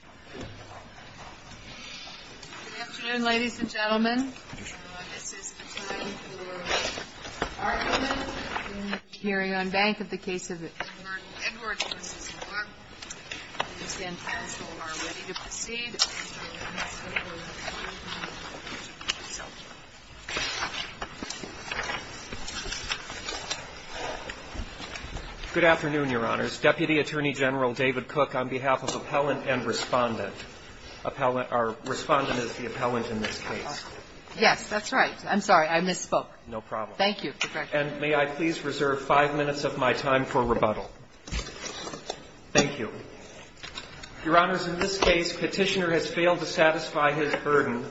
Good afternoon, ladies and gentlemen. This is a time for argument in the hearing on bank of the case of Edward v. LaMarque. I understand counsel are ready to proceed. Good afternoon, Your Honors. Deputy Attorney General David Cook on behalf of Appellant and Respondent. Appellant or Respondent is the appellant in this case. Yes, that's right. I'm sorry. I misspoke. No problem. Thank you. And may I please reserve five minutes of my time for rebuttal? Thank you. Your Honors, in this case, Petitioner has failed to satisfy his burden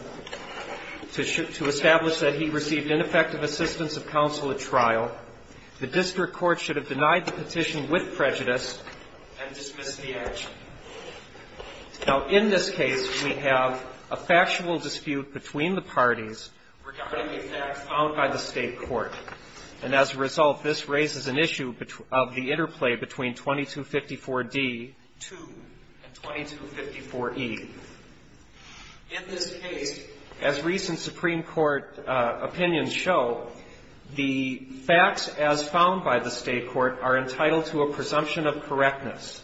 to establish that he received ineffective assistance of counsel at trial. The district court should have denied the petition with prejudice and dismissed the action. Now, in this case, we have a factual dispute between the parties regarding a fact found by the state court. And as a result, this raises an issue of the interplay between 2254D-2 and 2254E. In this case, as recent Supreme Court opinions show, the facts as found by the state court are entitled to a presumption of correctness.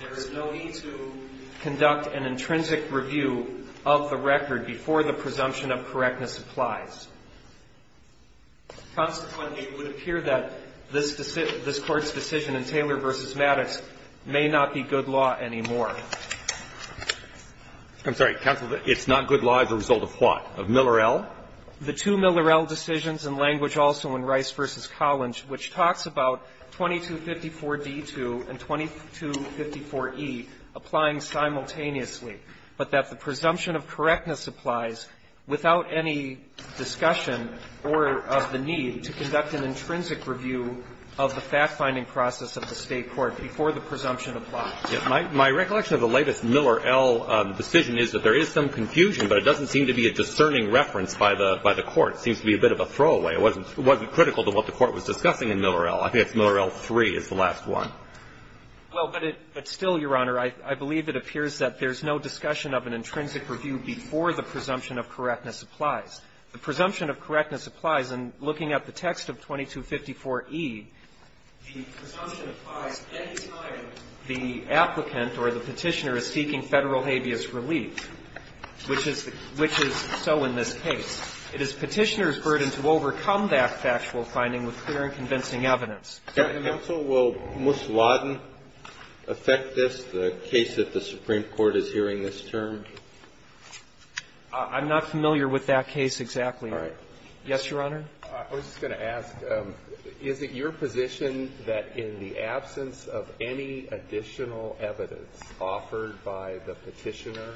There is no need to conduct an intrinsic review of the record before the presumption of correctness applies. Consequently, it would appear that this court's decision in Taylor v. Maddox may not be good law anymore. I'm sorry. Counsel, it's not good law as a result of what? Of Miller-El? The two Miller-El decisions and language also in Rice v. Collins, which talks about 2254D-2 and 2254E applying simultaneously, but that the presumption of correctness applies without any discussion or of the need to conduct an intrinsic review of the fact-finding process of the state court before the presumption applies. My recollection of the latest Miller-El decision is that there is some confusion, but it doesn't seem to be a discerning reference by the court. It seems to be a bit of a throwaway. It wasn't critical to what the Court was discussing in Miller-El. I think it's Miller-El 3 is the last one. Well, but it's still, Your Honor, I believe it appears that there's no discussion of an intrinsic review before the presumption of correctness applies. The presumption of correctness applies. And looking at the text of 2254E, the presumption applies any time the applicant or the Petitioner is seeking Federal habeas relief, which is so in this case. It is Petitioner's burden to overcome that factual finding with clear and convincing evidence. And also, will Mousawadden affect this, the case that the Supreme Court is hearing this term? I'm not familiar with that case exactly. All right. Yes, Your Honor. I was just going to ask, is it your position that in the absence of any additional evidence offered by the Petitioner,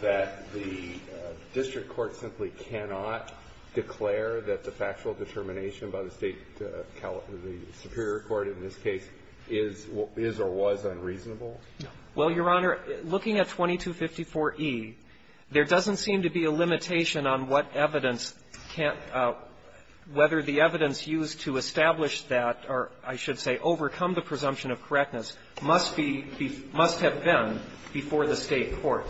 that the district court simply cannot declare that the factual determination by the State Superior Court in this case is or was unreasonable? Well, Your Honor, looking at 2254E, there doesn't seem to be a limitation on what evidence can't, whether the evidence used to establish that, or I should say, overcome the presumption of correctness, must be, must have been before the State court.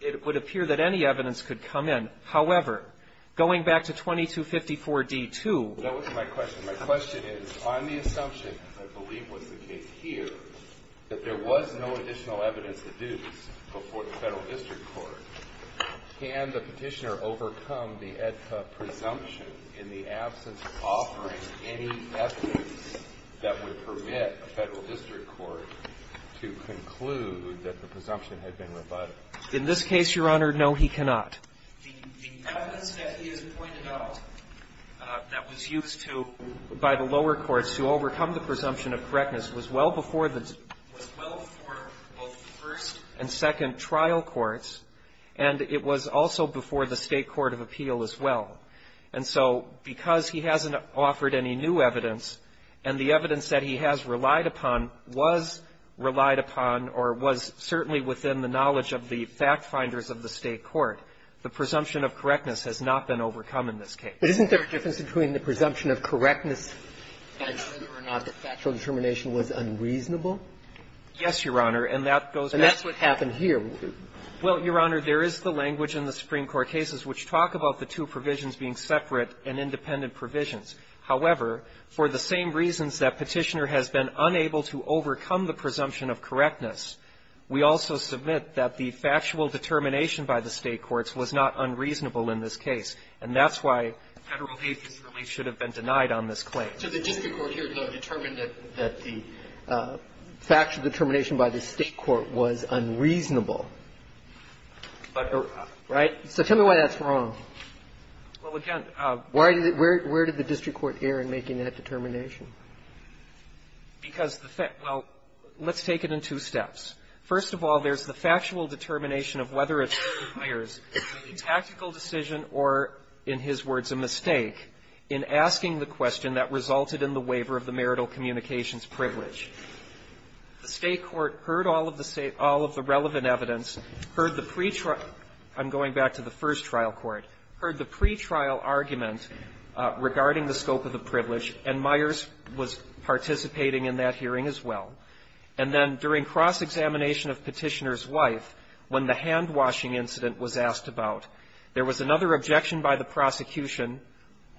It would appear that any evidence could come in. However, going back to 2254D2. That wasn't my question. My question is, on the assumption, I believe was the case here, that there was no additional evidence deduced before the Federal district court, can the Petitioner overcome the presumption in the absence of offering any evidence that would permit a Federal district court to conclude that the presumption had been rebutted? In this case, Your Honor, no, he cannot. The evidence that he has pointed out that was used to, by the lower courts to overcome the presumption of correctness, was well before the, was well before both the first and second trial courts, and it was also before the State court of appeal as well. And so because he hasn't offered any new evidence, and the evidence that he has relied upon was relied upon or was certainly within the knowledge of the fact-finders of the State court, the presumption of correctness has not been overcome in this case. Isn't there a difference between the presumption of correctness and whether or not the factual determination was unreasonable? Yes, Your Honor. And that goes back to the State court of appeal. And that's what happened here. Well, Your Honor, there is the language in the Supreme Court cases which talk about the two provisions being separate and independent provisions. However, for the same reasons that Petitioner has been unable to overcome the presumption of correctness, we also submit that the factual determination by the State courts was not unreasonable in this case. And that's why Federal agencies really should have been denied on this claim. So the district court here determined that the factual determination by the State court was unreasonable. Right? So tell me why that's wrong. Well, again, where did the district court err in making that determination? Because the Fed – well, let's take it in two steps. First of all, there's the factual determination of whether it requires a tactical decision or, in his words, a mistake in asking the question that resulted in the waiver of the marital communications privilege. The State court heard all of the relevant evidence, heard the pre-trial – I'm going back to the first trial court – heard the pre-trial argument regarding the scope of the privilege, and Myers was participating in that hearing as well. And then during cross-examination of Petitioner's wife, when the hand-washing incident was asked about, there was another objection by the prosecution,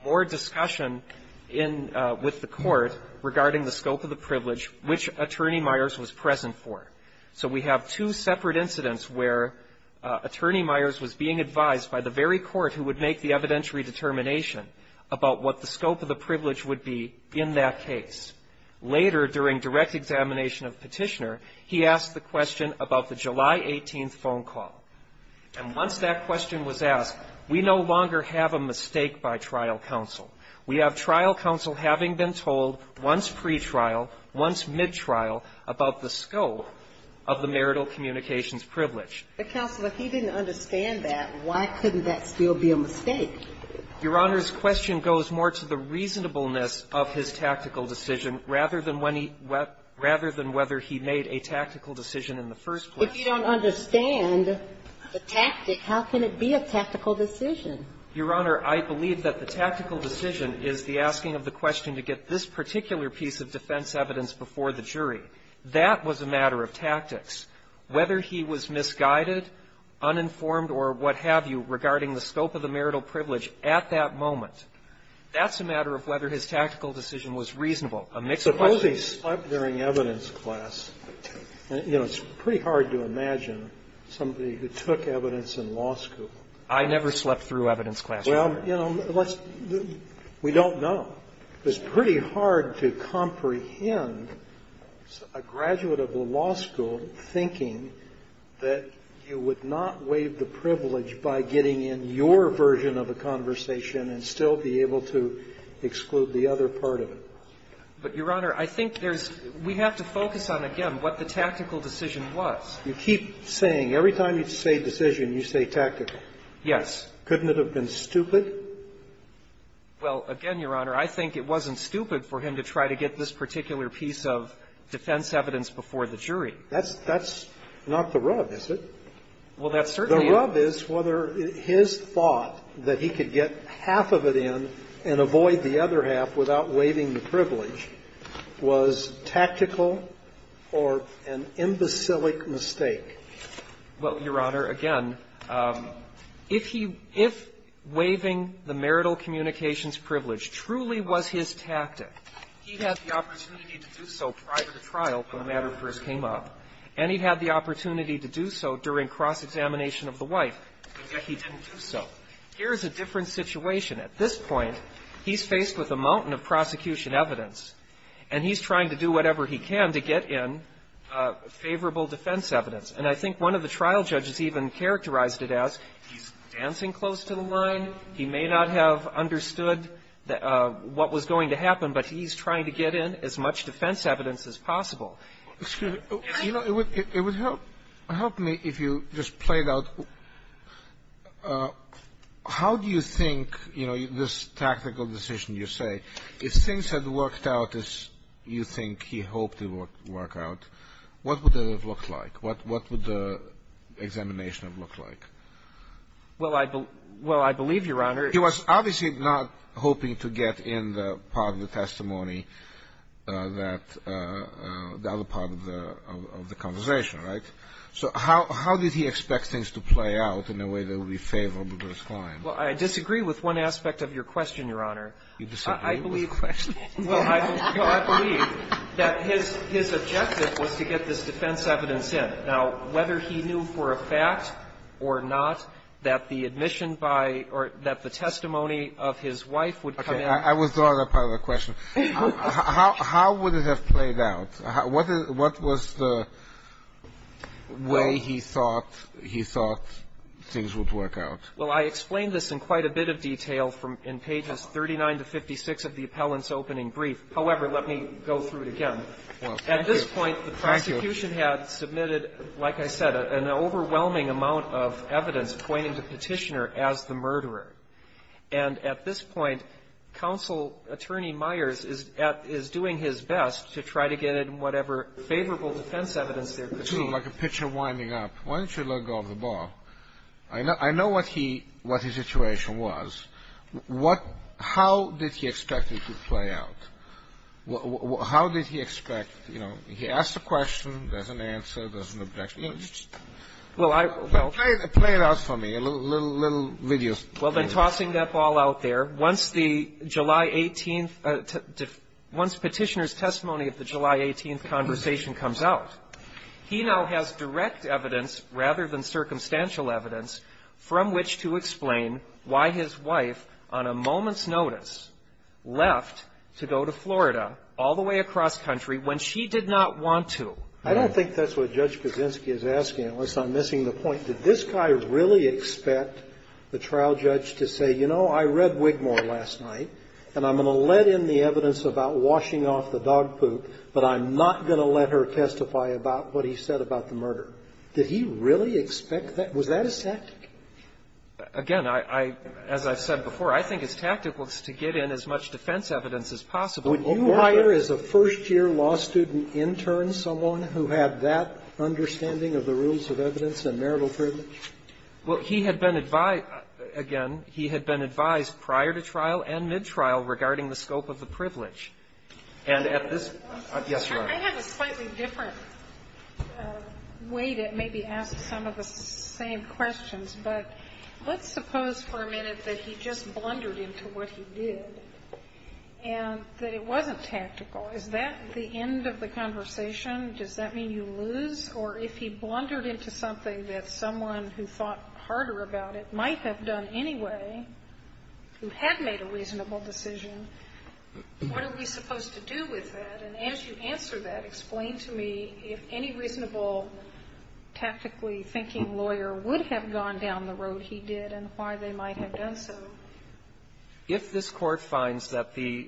more discussion in – with the court regarding the scope of the privilege, which Attorney Myers was present for. So we have two separate incidents where Attorney Myers was being advised by the very court who would make the evidentiary determination about what the scope of the privilege would be in that case. Later, during direct examination of Petitioner, he asked the question about the July 18th phone call. And once that question was asked, we no longer have a mistake by trial counsel. We have trial counsel having been told, once pre-trial, once mid-trial, about the scope of the marital communications privilege. But, Counselor, if he didn't understand that, why couldn't that still be a mistake? Your Honor's question goes more to the reasonableness of his tactical decision rather than when he – rather than whether he made a tactical decision in the first place. If you don't understand the tactic, how can it be a tactical decision? Your Honor, I believe that the tactical decision is the asking of the question to get this particular piece of defense evidence before the jury. That was a matter of tactics. Whether he was misguided, uninformed, or what have you regarding the scope of the marital privilege at that moment, that's a matter of whether his tactical decision was reasonable, a mixed question. Scalia. I usually slept during evidence class. You know, it's pretty hard to imagine somebody who took evidence in law school. I never slept through evidence class, Your Honor. Well, you know, let's – we don't know. It's pretty hard to comprehend a graduate of the law school thinking that you would not waive the privilege by getting in your version of a conversation and still be able to exclude the other part of it. But, Your Honor, I think there's – we have to focus on, again, what the tactical decision was. You keep saying – every time you say decision, you say tactical. Yes. Couldn't it have been stupid? Well, again, Your Honor, I think it wasn't stupid for him to try to get this particular piece of defense evidence before the jury. That's – that's not the rub, is it? Well, that certainly is. The rub is whether his thought that he could get half of it in and avoid the other half without waiving the privilege was tactical or an imbecilic mistake. Well, Your Honor, again, if he – if waiving the marital communications privilege truly was his tactic, he'd have the opportunity to do so prior to trial when the matter first came up. And he'd have the opportunity to do so during cross-examination of the wife, but yet he didn't do so. Here's a different situation. At this point, he's faced with a mountain of prosecution evidence, and he's trying to do whatever he can to get in favorable defense evidence. And I think one of the trial judges even characterized it as he's dancing close to the line. He may not have understood what was going to happen, but he's trying to get in as much defense evidence as possible. Excuse me. You know, it would help me if you just played out how do you think, you know, this tactical decision you say, if things had worked out as you think he hoped it would work out, what would it have looked like? What would the examination have looked like? Well, I believe, Your Honor, it's He was obviously not hoping to get in the part of the testimony that the other part of the conversation, right? So how did he expect things to play out in a way that would be favorable to his client? Well, I disagree with one aspect of your question, Your Honor. You disagree with the question? Well, I believe that his objective was to get this defense evidence in. Now, whether he knew for a fact or not that the admission by or that the testimony of his wife would come in. I withdraw that part of the question. How would it have played out? What was the way he thought he thought things would work out? Well, I explained this in quite a bit of detail from in pages 39 to 56 of the appellant's opening brief. However, let me go through it again. At this point, the prosecution had submitted, like I said, an overwhelming amount of evidence pointing to Petitioner as the murderer. And at this point, Counsel Attorney Myers is at his doing his best to try to get in whatever favorable defense evidence there could be. It's sort of like a pitcher winding up. Why don't you let go of the ball? I know what he what his situation was. What how did he expect it to play out? How did he expect, you know, he asked a question, there's an answer, there's an objection. You know, just play it out for me, little videos. Well, then tossing that ball out there, once the July 18th, once Petitioner's testimony of the July 18th conversation comes out, he now has direct evidence rather than circumstantial evidence from which to explain why his wife, on a moment's notice, left to go to Florida all the way across country when she did not want to. I don't think that's what Judge Kaczynski is asking, unless I'm missing the point. Did this guy really expect the trial judge to say, you know, I read Wigmore last night, and I'm going to let in the evidence about washing off the dog poop, but I'm not going to let her testify about what he said about the murder? Did he really expect that? Was that his tactic? Again, I as I've said before, I think his tactic was to get in as much defense evidence as possible. Would you hire as a first-year law student intern someone who had that understanding of the rules of evidence and marital privilege? Well, he had been advised, again, he had been advised prior to trial and mid-trial regarding the scope of the privilege. And at this point, yes, Your Honor. I have a slightly different way to maybe ask some of the same questions, but let's suppose for a minute that he just blundered into what he did and that it wasn't tactical. Is that the end of the conversation? Does that mean you lose? Or if he blundered into something that someone who thought harder about it might have done anyway, who had made a reasonable decision, what are we supposed to do with that? And as you answer that, explain to me if any reasonable tactically thinking lawyer would have gone down the road he did and why they might have done so. If this Court finds that the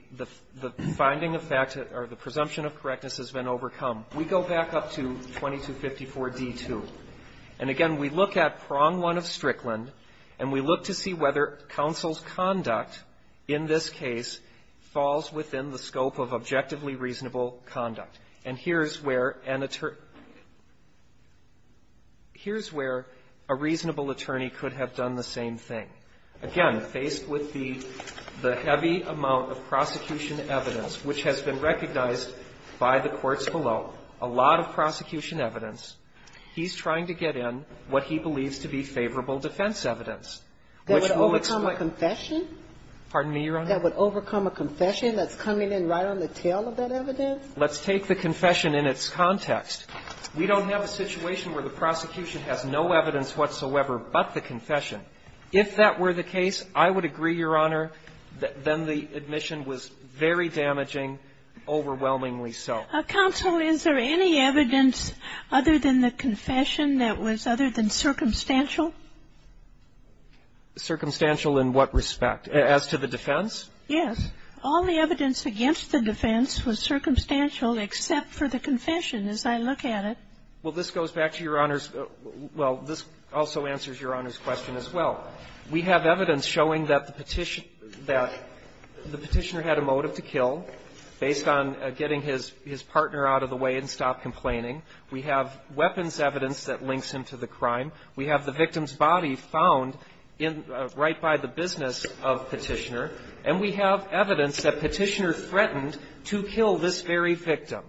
finding of fact or the presumption of correctness has been overcome, we go back up to 2254d-2, and again, we look at prong one of Strickland, and we look to see whether counsel's conduct in this case falls within the scope of objectively reasonable conduct. And here's where an attorney, here's where a reasonable attorney could have done the same thing. Again, faced with the heavy amount of prosecution evidence, which has been found in the reports below, a lot of prosecution evidence, he's trying to get in what he believes to be favorable defense evidence, which will explain the question. Pardon me, Your Honor? That would overcome a confession that's coming in right on the tail of that evidence? Let's take the confession in its context. We don't have a situation where the prosecution has no evidence whatsoever but the confession. If that were the case, I would agree, Your Honor, that then the admission was very damaging, overwhelmingly so. Counsel, is there any evidence other than the confession that was other than circumstantial? Circumstantial in what respect? As to the defense? Yes. All the evidence against the defense was circumstantial except for the confession as I look at it. Well, this goes back to Your Honor's – well, this also answers Your Honor's question as well. We have evidence showing that the petitioner – that the petitioner had a motive to kill based on getting his partner out of the way and stop complaining. We have weapons evidence that links him to the crime. We have the victim's body found in – right by the business of Petitioner. And we have evidence that Petitioner threatened to kill this very victim.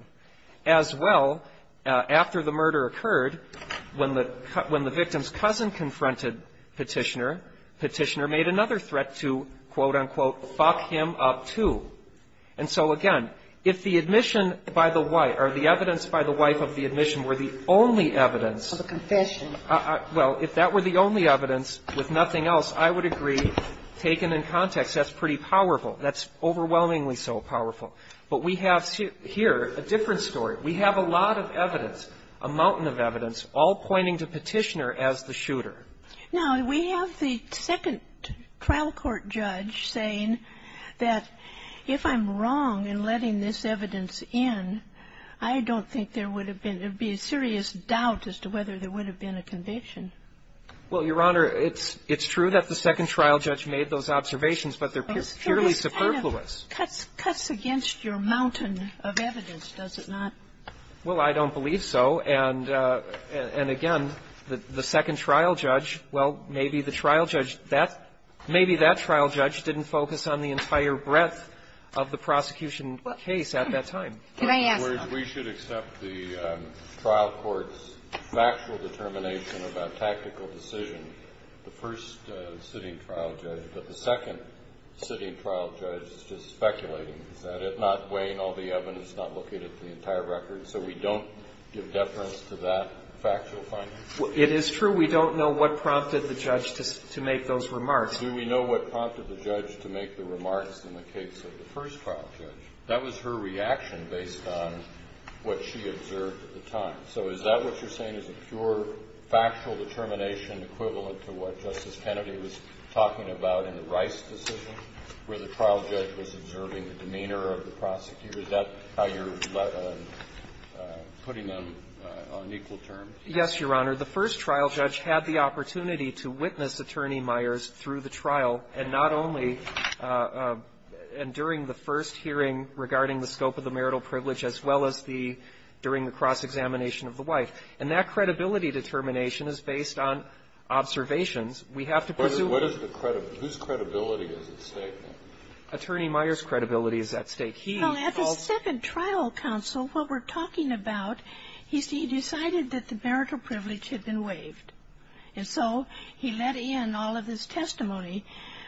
As well, after the murder occurred, when the – when the victim's cousin confronted Petitioner, Petitioner made another threat to, quote, unquote, fuck him up, too. And so, again, if the admission by the wife – or the evidence by the wife of the admission were the only evidence of a confession – well, if that were the only evidence with nothing else, I would agree, taken in context, that's pretty powerful. That's overwhelmingly so powerful. But we have here a different story. We have a lot of evidence, a mountain of evidence, all pointing to Petitioner as the shooter. Now, we have the second trial court judge saying that if I'm wrong in letting this evidence in, I don't think there would have been – there would be a serious doubt as to whether there would have been a conviction. Well, Your Honor, it's true that the second trial judge made those observations, but they're purely superfluous. Cuts – cuts against your mountain of evidence, does it not? Well, I don't believe so. And – and, again, the second trial judge, well, maybe the trial judge – that – maybe that trial judge didn't focus on the entire breadth of the prosecution case at that time. Can I ask a question? We should accept the trial court's factual determination about tactical decision, the first sitting trial judge, but the second sitting trial judge is just speculating. Is that it? Not weighing all the evidence, not looking at the entire record, so we don't give deference to that factual finding? It is true we don't know what prompted the judge to – to make those remarks. Do we know what prompted the judge to make the remarks in the case of the first trial judge? That was her reaction based on what she observed at the time. So is that what you're saying is a pure factual determination equivalent to what Justice Kennedy was talking about in the Rice decision, where the trial judge was observing the demeanor of the prosecutor? Is that how you're putting them on equal terms? Yes, Your Honor. The first trial judge had the opportunity to witness Attorney Myers through the trial, and not only – and during the first hearing regarding the scope of the marital privilege, as well as the – during the cross-examination of the wife. And that credibility determination is based on observations. We have to pursue the – What is the credibility? Whose credibility is at stake now? Attorney Myers' credibility is at stake. He calls – Well, at the second trial counsel, what we're talking about is he decided that the marital privilege had been waived. And so he let in all of his testimony.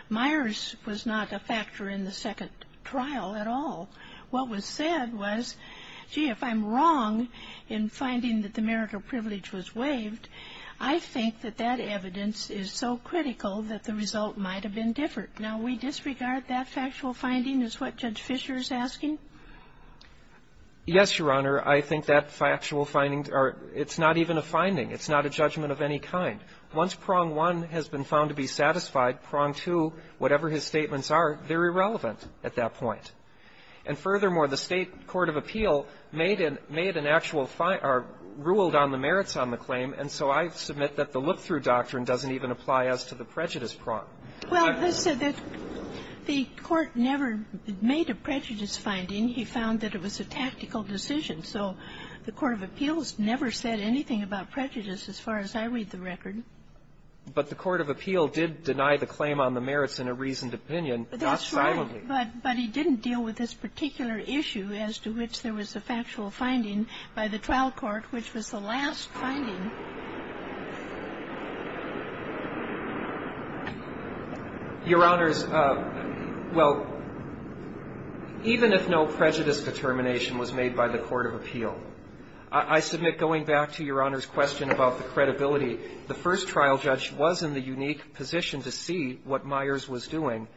Myers was not a factor in the second trial at all. What was said was, gee, if I'm wrong in finding that the marital privilege was waived, I think that that evidence is so critical that the result might have been different. Now, we disregard that factual finding, is what Judge Fischer is asking? Yes, Your Honor. I think that factual finding – or it's not even a finding. It's not a judgment of any kind. Once prong one has been found to be satisfied, prong two, whatever his statements are, they're irrelevant at that point. And furthermore, the State court of appeal made an actual – or ruled on the merits on the claim, and so I submit that the look-through doctrine doesn't even apply as to the prejudice prong. Well, the Court never made a prejudice finding. He found that it was a tactical decision. So the court of appeals never said anything about prejudice as far as I read the record. But the court of appeal did deny the claim on the merits in a reasoned opinion. That's right. Not silently. But he didn't deal with this particular issue as to which there was a factual finding by the trial court, which was the last finding. Your Honors, well, even if no prejudice determination was made by the court of appeal, I submit going back to Your Honor's question about the credibility, the first trial judge was in the unique position to see what Myers was doing,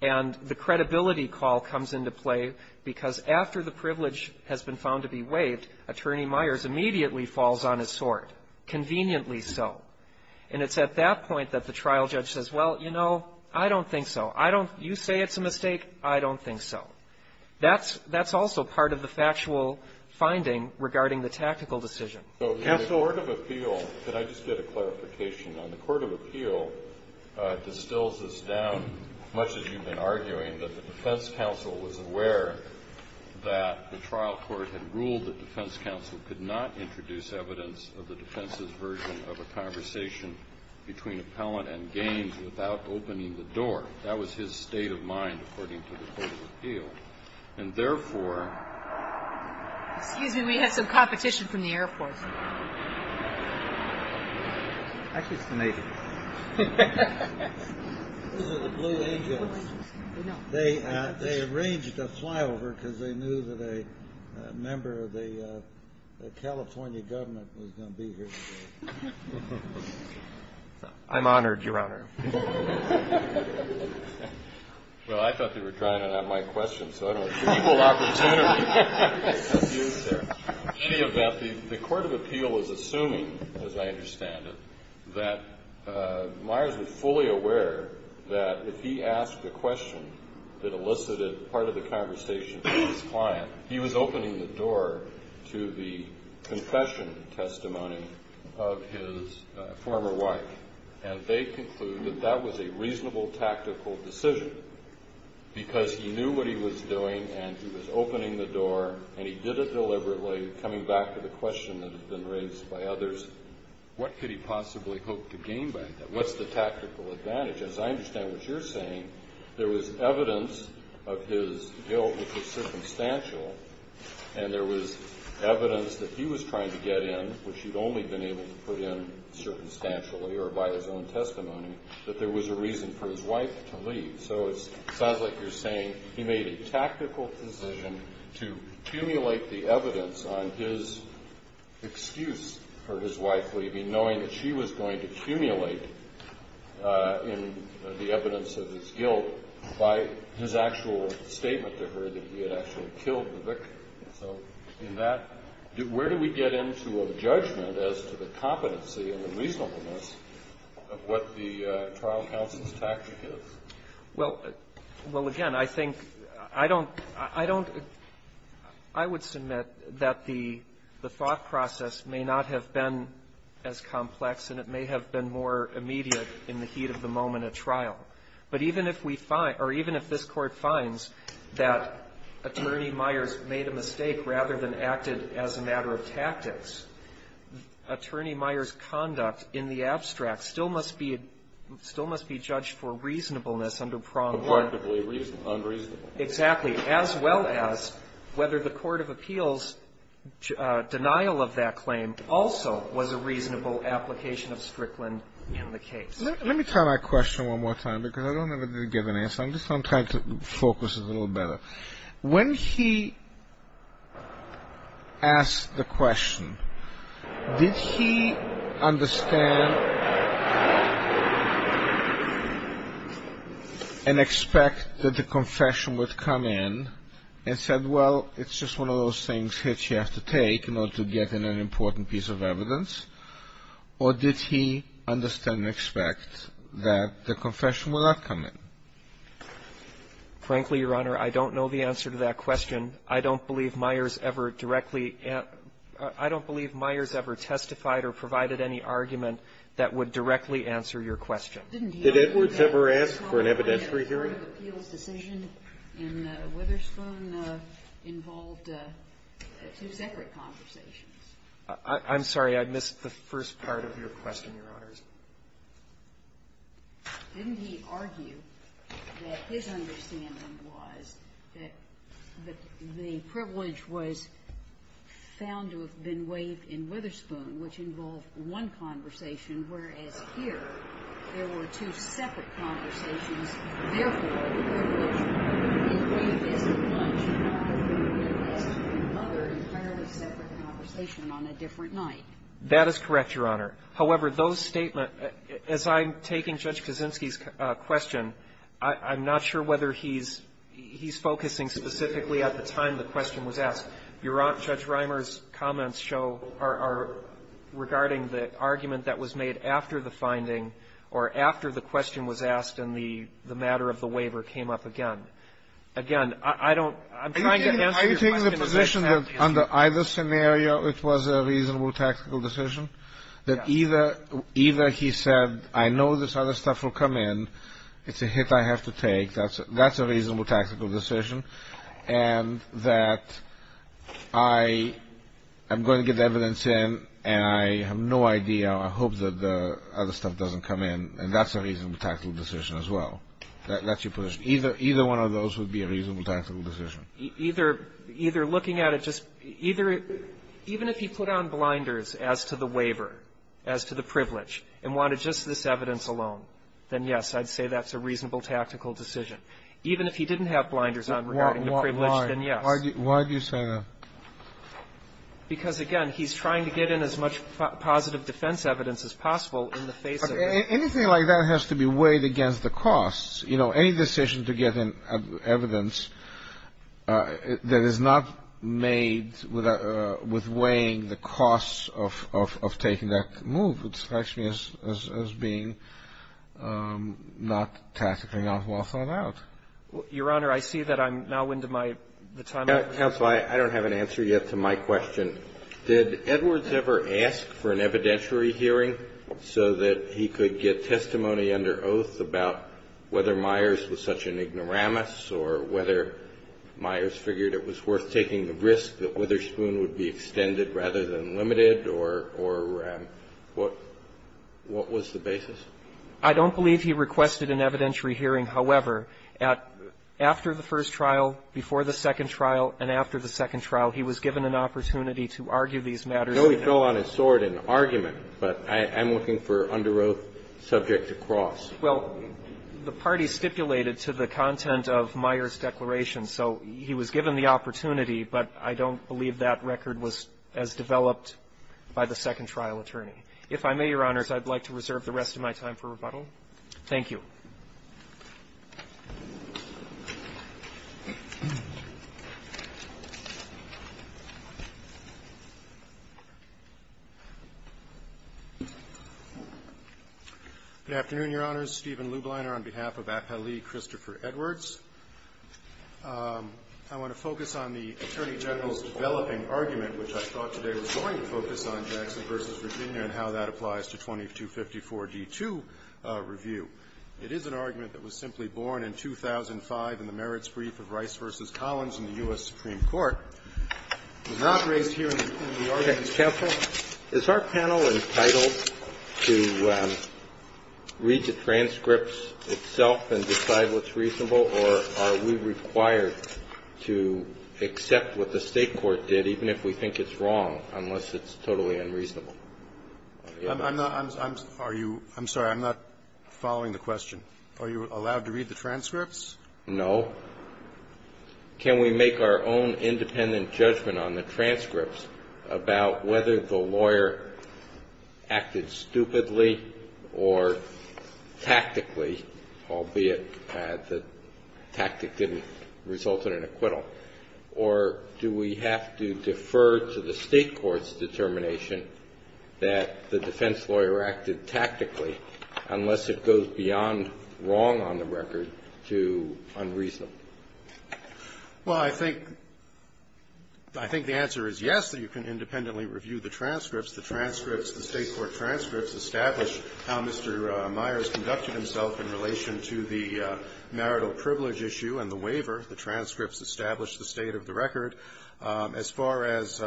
and the credibility call comes into play, because after the privilege has been found to be waived, Attorney Myers immediately falls on his sword, conveniently so. And it's at that point that the trial judge says, well, you know, I don't think so. I don't – you say it's a mistake. I don't think so. That's also part of the factual finding regarding the tactical decision. So the court of appeal – could I just get a clarification on the court of appeal distills this down, much as you've been arguing, that the defense counsel was aware that the trial court had ruled that defense counsel could not introduce evidence of the defense's version of a conversation between appellant and Gaines without opening the door. That was his state of mind, according to the court of appeal. And, therefore – Excuse me. We had some competition from the Air Force. Actually, it's the Navy. Those are the Blue Angels. They arranged a flyover because they knew that a member of the California government was going to be here today. I'm honored, Your Honor. Well, I thought they were trying to have my question, so I don't know. It's an equal opportunity. In any event, the court of appeal is assuming, as I understand it, that Myers was fully aware that if he asked a question that elicited part of the conversation with his client, he was opening the door to the confession testimony of his former wife. And they conclude that that was a reasonable tactical decision because he was doing, and he was opening the door, and he did it deliberately, coming back to the question that had been raised by others. What could he possibly hope to gain by that? What's the tactical advantage? As I understand what you're saying, there was evidence of his guilt, which was circumstantial, and there was evidence that he was trying to get in, which he'd only been able to put in circumstantially or by his own testimony, that there was a reason for his wife to leave. So it sounds like you're saying he made a tactical decision to accumulate the evidence on his excuse for his wife leaving, knowing that she was going to accumulate the evidence of his guilt by his actual statement to her that he had actually killed the victim. So in that, where do we get into a judgment as to the competency and the reasonableness of what the trial counsel's tactic is? Well, again, I think I don't – I don't – I would submit that the thought process may not have been as complex, and it may have been more immediate in the heat of the moment at trial. But even if we find – or even if this Court finds that Attorney Myers made a mistake rather than acted as a matter of tactics, Attorney Myers' conduct in the abstract still must be – still must be judged for reasonableness under pronged – Correctively unreasonable. Exactly. As well as whether the court of appeals' denial of that claim also was a reasonable application of Strickland in the case. Let me try my question one more time, because I don't have a given answer. I'm just – I'm trying to focus a little better. When he asked the question, did he understand and expect that the confession would come in and said, well, it's just one of those things that you have to take in order to get in an important piece of evidence? Or did he understand and expect that the confession would not come in? Frankly, Your Honor, I don't know the answer to that question. I don't believe Myers ever directly – I don't believe Myers ever testified or provided any argument that would directly answer your question. Did Edwards ever ask for an evidentiary hearing? The court of appeals' decision in Witherspoon involved two separate conversations. I'm sorry. I missed the first part of your question, Your Honors. Didn't he argue that his understanding was that the privilege was found to have been waived in Witherspoon, which involved one conversation, whereas here there were two separate conversations, therefore the privilege is waived as a bunch of other entirely separate conversation on a different night? That is correct, Your Honor. However, those statements – as I'm taking Judge Kaczynski's question, I'm not sure whether he's focusing specifically at the time the question was asked. Judge Reimer's comments show – are regarding the argument that was made after the finding or after the question was asked and the matter of the waiver came up again. Again, I don't – I'm trying to answer your question. I'm taking the position that under either scenario it was a reasonable tactical decision, that either he said, I know this other stuff will come in, it's a hit I have to take, that's a reasonable tactical decision, and that I am going to get the evidence in and I have no idea, I hope that the other stuff doesn't come in, and that's a reasonable tactical decision as well. That's your position. Either one of those would be a reasonable tactical decision. Either looking at it just – even if he put on blinders as to the waiver, as to the privilege, and wanted just this evidence alone, then yes, I'd say that's a reasonable tactical decision. Even if he didn't have blinders on regarding the privilege, then yes. Why do you say that? Because, again, he's trying to get in as much positive defense evidence as possible in the face of it. Anything like that has to be weighed against the costs. You know, any decision to get in evidence that is not made with weighing the costs of taking that move, it strikes me as being not tactically, not well thought out. Your Honor, I see that I'm now into my time. Counsel, I don't have an answer yet to my question. Did Edwards ever ask for an evidentiary hearing so that he could get testimony under oath about whether Myers was such an ignoramus or whether Myers figured it was worth taking the risk that Witherspoon would be extended rather than limited or what was the basis? I don't believe he requested an evidentiary hearing. However, after the first trial, before the second trial, and after the second trial, he was given an opportunity to argue these matters. I know he fell on his sword in argument, but I'm looking for under oath subject to cross. Well, the party stipulated to the content of Myers' declaration. So he was given the opportunity, but I don't believe that record was as developed by the second trial attorney. If I may, Your Honors, I'd like to reserve the rest of my time for rebuttal. Thank you. Roberts. Good afternoon, Your Honors. Stephen Lubliner on behalf of Appellee Christopher Edwards. I want to focus on the Attorney General's developing argument, which I thought today was going to focus on, Jackson v. Virginia, and how that applies to 2254d2 review. It is an argument that was simply born in 2005 in the merits brief of Rice v. Collins in the U.S. Supreme Court. It was not raised here in the argument. Counsel, is our panel entitled to read the transcripts itself and decide what's reasonable, or are we required to accept what the State court did, even if we think it's wrong, unless it's totally unreasonable? I'm not – I'm sorry. I'm not following the question. Are you allowed to read the transcripts? No. Can we make our own independent judgment on the transcripts about whether the lawyer acted stupidly or tactically, albeit the tactic didn't result in an acquittal, or do we have to defer to the State court's determination that the defense lawyer acted tactically unless it goes beyond wrong on the record to unreasonable? Well, I think the answer is yes, that you can independently review the transcripts. The transcripts, the State court transcripts, establish how Mr. Myers conducted himself in relation to the marital privilege issue and the waiver. The transcripts establish the state of the record. As far as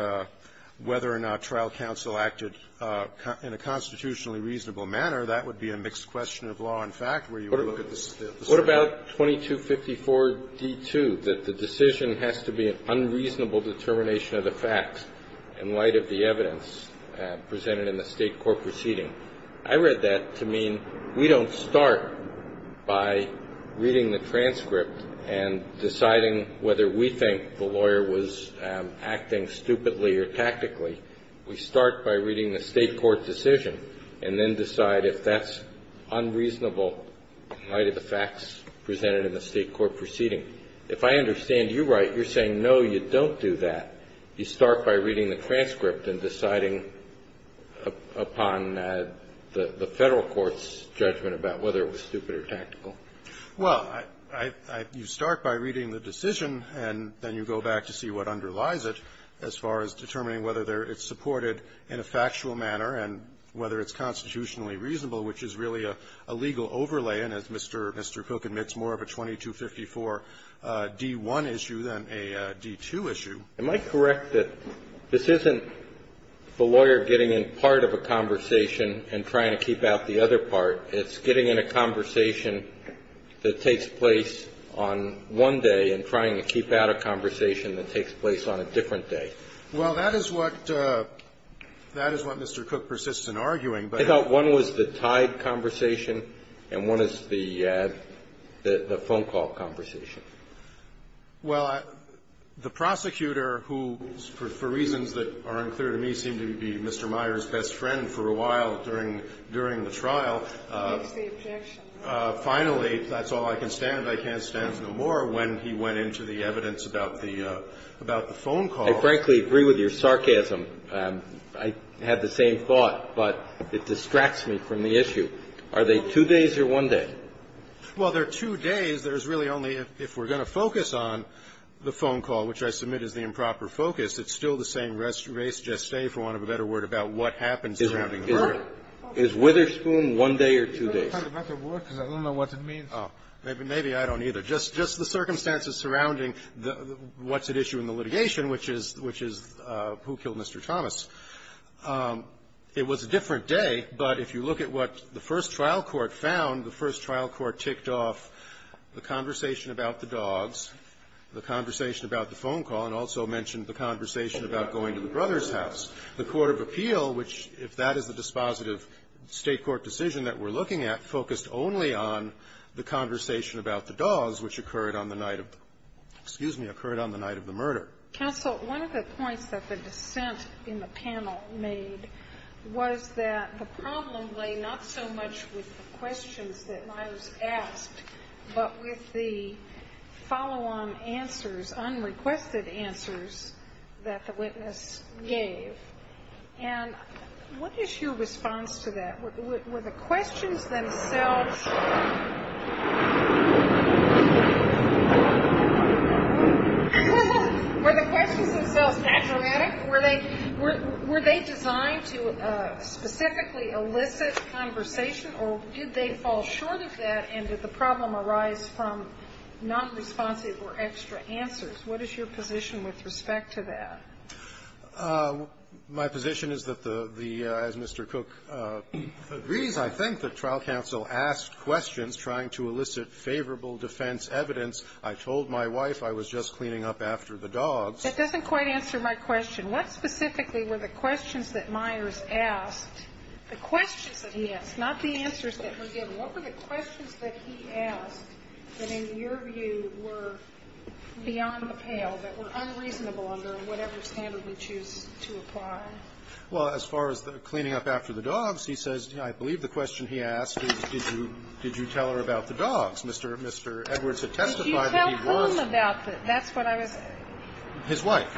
whether or not trial counsel acted in a constitutionally reasonable manner, that would be a mixed question of law and fact where you would look at the circuit. What about 2254d2, that the decision has to be an unreasonable determination of the facts in light of the evidence presented in the State court proceeding? I read that to mean we don't start by reading the transcript and deciding whether we think the lawyer was acting stupidly or tactically. We start by reading the State court decision and then decide if that's unreasonable in light of the facts presented in the State court proceeding. If I understand you right, you're saying, no, you don't do that. You start by reading the transcript and deciding upon the Federal court's judgment about whether it was stupid or tactical. Well, you start by reading the decision and then you go back to see what underlies it as far as determining whether it's supported in a factual manner and whether it's constitutionally reasonable, which is really a legal overlay. And as Mr. Cook admits, more of a 2254d1 issue than a d2 issue. Am I correct that this isn't the lawyer getting in part of a conversation and trying to keep out the other part? It's getting in a conversation that takes place on one day and trying to keep out a conversation that takes place on a different day? Well, that is what Mr. Cook persists in arguing, but I thought one was the tied conversation and one is the phone call conversation. Well, the prosecutor, who, for reasons that are unclear to me, seemed to be Mr. Meyer's best friend for a while during the trial, finally, that's all I can stand, I can't stand no more, when he went into the evidence about the phone call. I frankly agree with your sarcasm. I had the same thought, but it distracts me from the issue. Are they two days or one day? Well, they're two days. There's really only, if we're going to focus on the phone call, which I submit is the improper focus, it's still the same race, geste, for want of a better word, about what happens surrounding the murder. Is Witherspoon one day or two days? I don't know what it means. Maybe I don't either. Just the circumstances surrounding what's at issue in the litigation, which is who killed Mr. Thomas. It was a different day, but if you look at what the first trial court found, the first trial court mentioned the conversation about the dogs, the conversation about the phone call, and also mentioned the conversation about going to the brother's house. The court of appeal, which, if that is the dispositive State court decision that we're looking at, focused only on the conversation about the dogs, which occurred on the night of the murder. Counsel, one of the points that the dissent in the panel made was that the problem lay not so much with the questions that Miles asked, but with the follow-on answers, unrequested answers, that the witness gave. And what is your response to that? Were the questions themselves... Were the questions themselves patriotic? Were they designed to specifically elicit conversation, or did they fall short of that, and did the problem arise from nonresponsive or extra answers? What is your position with respect to that? My position is that the Mr. Cook agrees, I think, that trial counsel asked questions trying to elicit favorable defense evidence. I told my wife I was just cleaning up after the dogs. That doesn't quite answer my question. What specifically were the questions that Myers asked, the questions that he asked, not the answers that were given? What were the questions that he asked that, in your view, were beyond the pale, that were unreasonable under whatever standard we choose to apply? Well, as far as the cleaning up after the dogs, he says, I believe the question he asked is, did you tell her about the dogs? Mr. Edwards had testified that he was... His wife.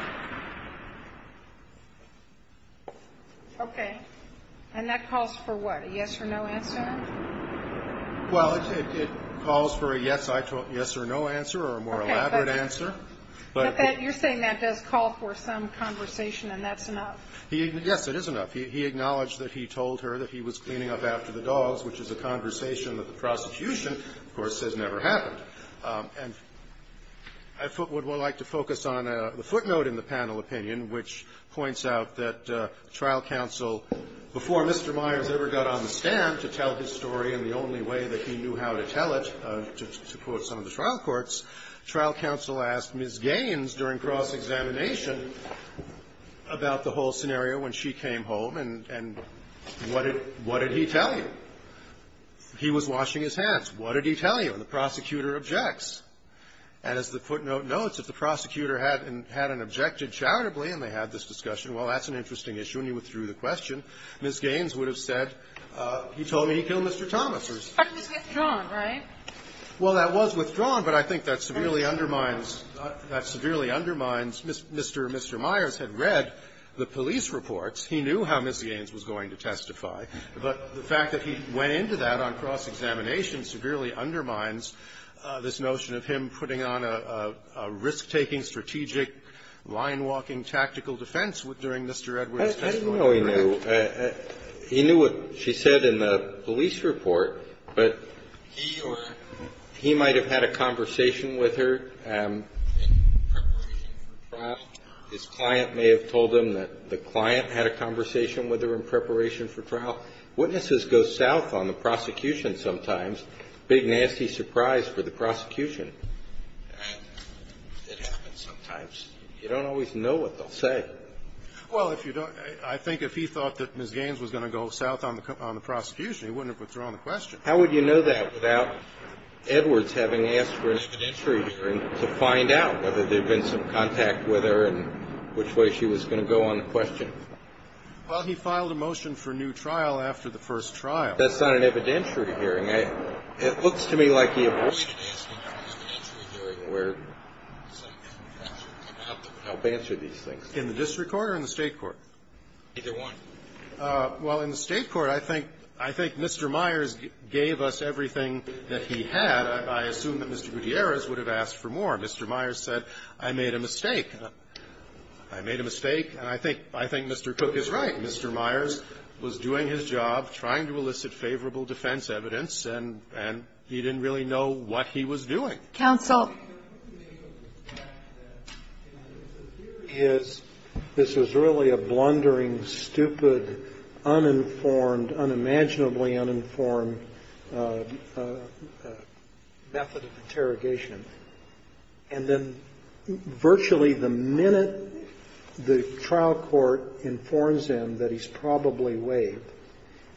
Okay. And that calls for what, a yes or no answer? Well, it calls for a yes or no answer, or a more elaborate answer. But you're saying that does call for some conversation, and that's enough? Yes, it is enough. He acknowledged that he told her that he was cleaning up after the dogs, which is a conversation that the prosecution, of course, says never happened. And I would like to focus on the footnote in the panel opinion, which points out that trial counsel, before Mr. Myers ever got on the stand to tell his story in the only way that he knew how to tell it, to quote some of the trial courts, trial counsel asked Ms. Gaines during cross-examination about the whole scenario when she came home, and what did he tell you? He was washing his hands. What did he tell you? And the prosecutor objects. And as the footnote notes, if the prosecutor had and had an objected charitably and they had this discussion, well, that's an interesting issue. And he withdrew the question. Ms. Gaines would have said, he told me he killed Mr. Thomas. But it was withdrawn, right? Well, that was withdrawn, but I think that severely undermines Mr. and Mr. Myers had read the police reports. He knew how Ms. Gaines was going to testify. But the fact that he went into that on cross-examination severely undermines this notion of him putting on a risk-taking, strategic, line-walking tactical defense during Mr. Edwards' testimony, correct? I didn't know he knew. He knew what she said in the police report, but he or he might have had a conversation with her in preparation for trial. His client may have told him that the client had a conversation with her in preparation for trial. Witnesses go south on the prosecution sometimes. Big nasty surprise for the prosecution. It happens sometimes. You don't always know what they'll say. Well, if you don't, I think if he thought that Ms. Gaines was going to go south on the prosecution, he wouldn't have withdrawn the question. How would you know that without Edwards having asked for an expedientiary hearing to find out whether there had been some contact with her and which way she was going to go on the question? Well, he filed a motion for new trial after the first trial. That's not an evidentiary hearing. It looks to me like he was asking for an evidentiary hearing to help answer these things. In the district court or in the State court? Either one. Well, in the State court, I think Mr. Myers gave us everything that he had. I assume that Mr. Gutierrez would have asked for more. Mr. Myers said, I made a mistake. I made a mistake. And I think Mr. Cook is right. Mr. Myers was doing his job, trying to elicit favorable defense evidence, and he didn't really know what he was doing. Counsel. This is really a blundering, stupid, uninformed, unimaginably uninformed method of interrogation. And then virtually the minute the trial court informs him that he's probably waived,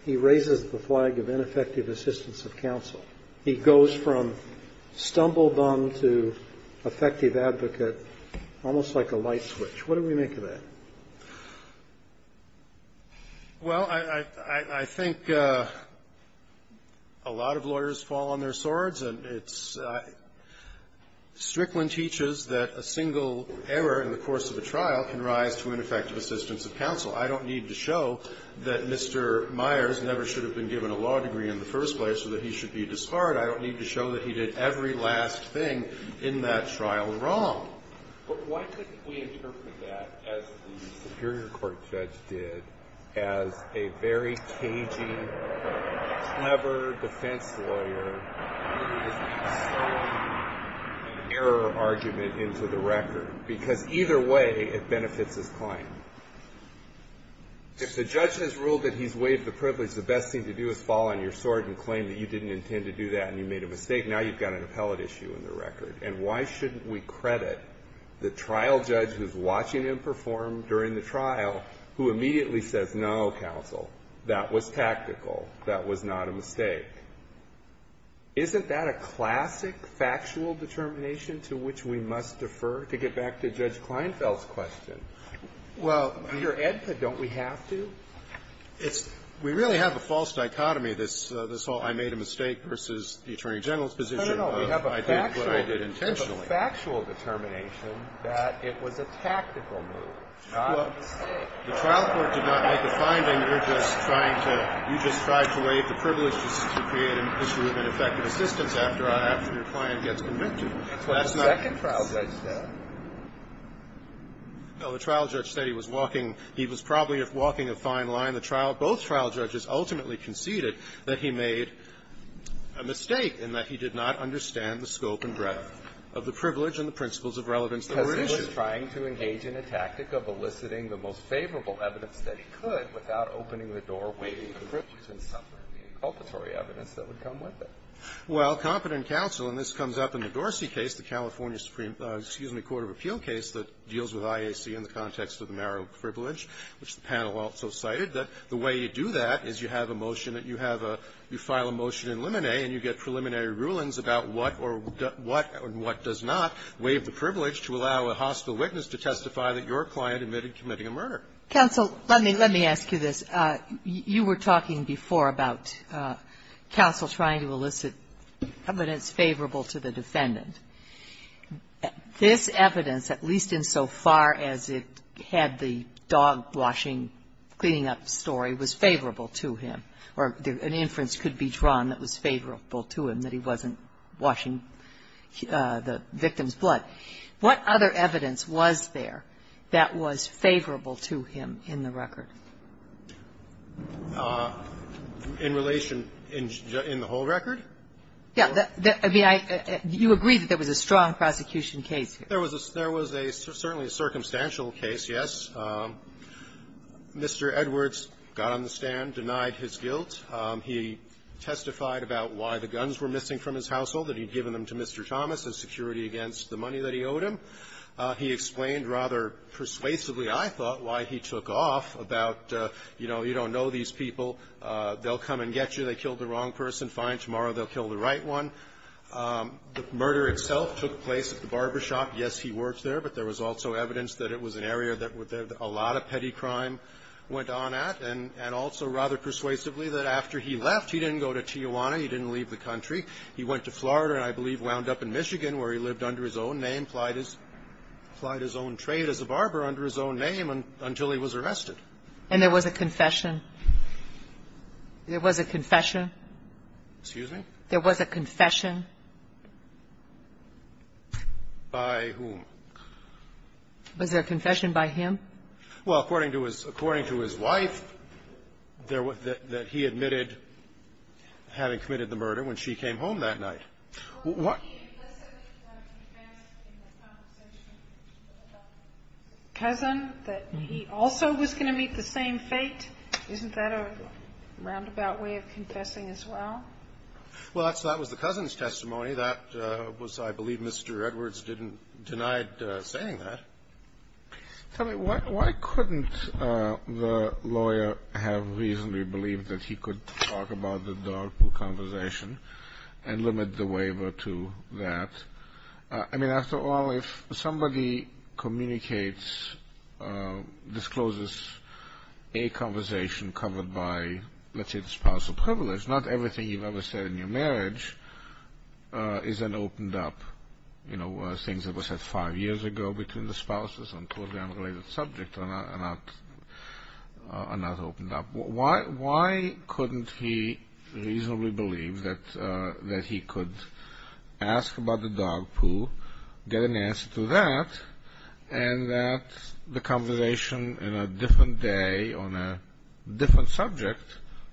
he raises the flag of ineffective assistance of counsel. He goes from stumbled-on to effective advocate, almost like a light switch. What do we make of that? Well, I think a lot of lawyers fall on their swords. And it's ‑‑ Strickland teaches that a single error in the course of a trial can rise to ineffective assistance of counsel. I don't need to show that Mr. Myers never should have been given a law degree in the first place or that he should be disbarred. I don't need to show that he did every last thing in that trial wrong. But why couldn't we interpret that as the superior court judge did as a very cagey, clever defense lawyer who has thrown an error argument into the record? Because either way, it benefits his client. If the judge has ruled that he's waived the privilege, the best thing to do is fall on your sword and claim that you didn't intend to do that and you made a mistake. Now you've got an appellate issue in the record. And why shouldn't we credit the trial judge who's watching him perform during the trial who immediately says, no, counsel, that was tactical. That was not a mistake. Isn't that a classic factual determination to which we must defer? To get back to Judge Kleinfeld's question. Well ‑‑ We're EDPA. Don't we have to? It's ‑‑ we really have a false dichotomy, this whole I made a mistake versus No, no, no. It's a factual determination that it was a tactical move, not a mistake. Well, the trial court did not make a finding. You're just trying to ‑‑ you just tried to waive the privilege to create an issue of ineffective assistance after your client gets convicted. That's what the second trial judge said. No, the trial judge said he was walking ‑‑ he was probably walking a fine line. The trial ‑‑ both trial judges ultimately conceded that he made a mistake in that he did not understand the scope and breadth of the privilege and the principles of relevance that were at issue. Because he was trying to engage in a tactic of eliciting the most favorable evidence that he could without opening the door, waiving the privilege, and suffering the inculpatory evidence that would come with it. Well, competent counsel, and this comes up in the Dorsey case, the California Supreme Court of Appeal case that deals with IAC in the context of the marital privilege, which the panel also cited, that the way you do that is you have a motion that you have a ‑‑ and you get preliminary rulings about what or ‑‑ what and what does not waive the privilege to allow a hospital witness to testify that your client admitted committing a murder. Counsel, let me ‑‑ let me ask you this. You were talking before about counsel trying to elicit evidence favorable to the defendant. This evidence, at least insofar as it had the dog washing, cleaning up story, was favorable to him, or an inference could be drawn that was favorable to him, that he wasn't washing the victim's blood. What other evidence was there that was favorable to him in the record? In relation ‑‑ in the whole record? Yeah. I mean, I ‑‑ you agree that there was a strong prosecution case here. There was a ‑‑ there was a ‑‑ certainly a circumstantial case, yes. Mr. Edwards got on the stand, denied his guilt. He testified about why the guns were missing from his household, that he had given them to Mr. Thomas as security against the money that he owed him. He explained rather persuasively, I thought, why he took off about, you know, you don't know these people. They'll come and get you. They killed the wrong person. Fine. Tomorrow they'll kill the right one. The murder itself took place at the barbershop. Yes, he worked there, but there was also evidence that it was an area that a lot of petty crime went on at, and also rather persuasively that after he left, he didn't go to Tijuana. He didn't leave the country. He went to Florida, and I believe wound up in Michigan, where he lived under his own name, applied his own trade as a barber under his own name until he was arrested. And there was a confession? There was a confession? Excuse me? There was a confession? By whom? Was there a confession by him? Well, according to his wife, there was that he admitted having committed the murder when she came home that night. Well, he implicitly confessed in the conversation with a cousin that he also was going to meet the same fate. Isn't that a roundabout way of confessing as well? Well, that was the cousin's testimony. That was, I believe, Mr. Edwards denied saying that. Tell me, why couldn't the lawyer have reasonably believed that he could talk about the dog pool conversation and limit the waiver to that? I mean, after all, if somebody communicates, discloses a conversation covered by, let's say, the spousal privilege, not everything you've ever said in your marriage is then opened up. You know, things that were said five years ago between the spouses on totally unrelated subjects are not opened up. Why couldn't he reasonably believe that he could ask about the dog pool, get an answer to that, and that the conversation in a different day on a different subject,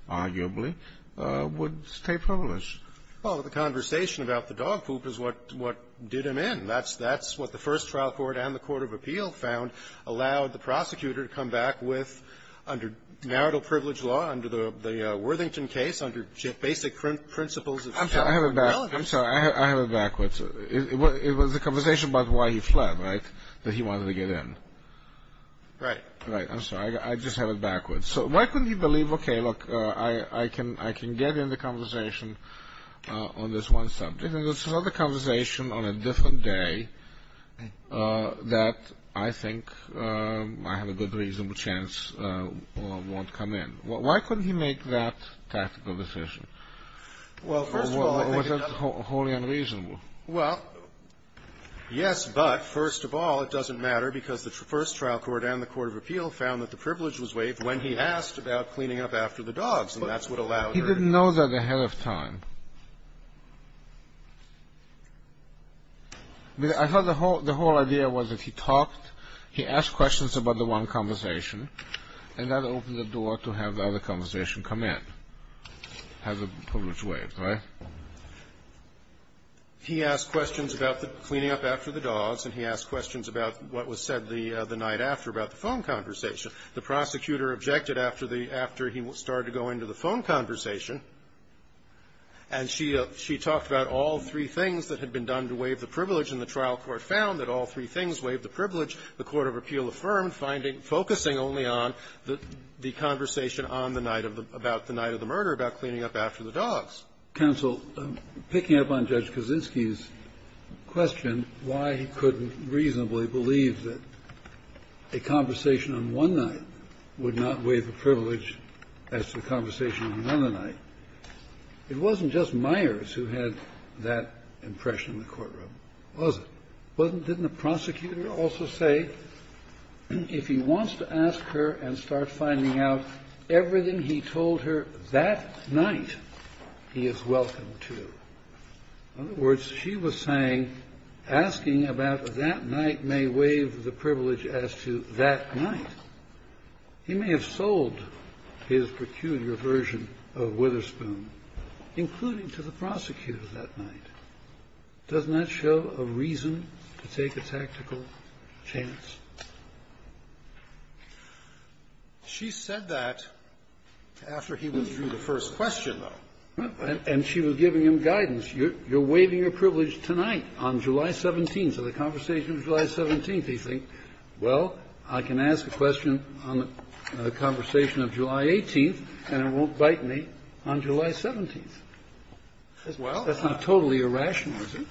arguably, would stay privileged? Well, the conversation about the dog poop is what did him in. That's what the first trial court and the court of appeal found allowed the prosecutor to come back with under marital privilege law, under the Worthington case, under basic principles of marriage. I'm sorry. I have it backwards. It was a conversation about why he fled, right, that he wanted to get in. Right. Right. I'm sorry. I just have it backwards. So why couldn't he believe, okay, look, I can get in the conversation on this one subject, and it's another conversation on a different day that I think I have a good reasonable chance won't come in. Why couldn't he make that tactical decision? Well, first of all, I think it was wholly unreasonable. Well, yes, but, first of all, it doesn't matter because the first trial court and the court of appeal found that the privilege was waived when he asked about cleaning up after the dogs, and that's what allowed her to get in. He didn't know that ahead of time. I thought the whole idea was that he talked, he asked questions about the one conversation, and that opened the door to have the other conversation come in, have the privilege waived. Right? He asked questions about the cleaning up after the dogs, and he asked questions about what was said the night after about the phone conversation. The prosecutor objected after he started going to the phone conversation, and she talked about all three things that had been done to waive the privilege, the court of appeal affirmed, finding, focusing only on the conversation on the night of the, about the night of the murder, about cleaning up after the dogs. Counsel, picking up on Judge Kaczynski's question, why he couldn't reasonably believe that a conversation on one night would not waive a privilege as the conversation on another night, it wasn't just Myers who had that impression in the courtroom, was it? Wasn't, didn't the prosecutor also say if he wants to ask her and start finding out everything he told her that night, he is welcome to? In other words, she was saying asking about that night may waive the privilege as to that night. He may have sold his peculiar version of Witherspoon, including to the prosecutor that night. Doesn't that show a reason to take a tactical chance? She said that after he withdrew the first question, though. And she was giving him guidance. You're waiving your privilege tonight on July 17th. So the conversation is July 17th. He thinks, well, I can ask a question on the conversation of July 18th, and it won't bite me on July 17th. As well? That's not totally irrational, is it?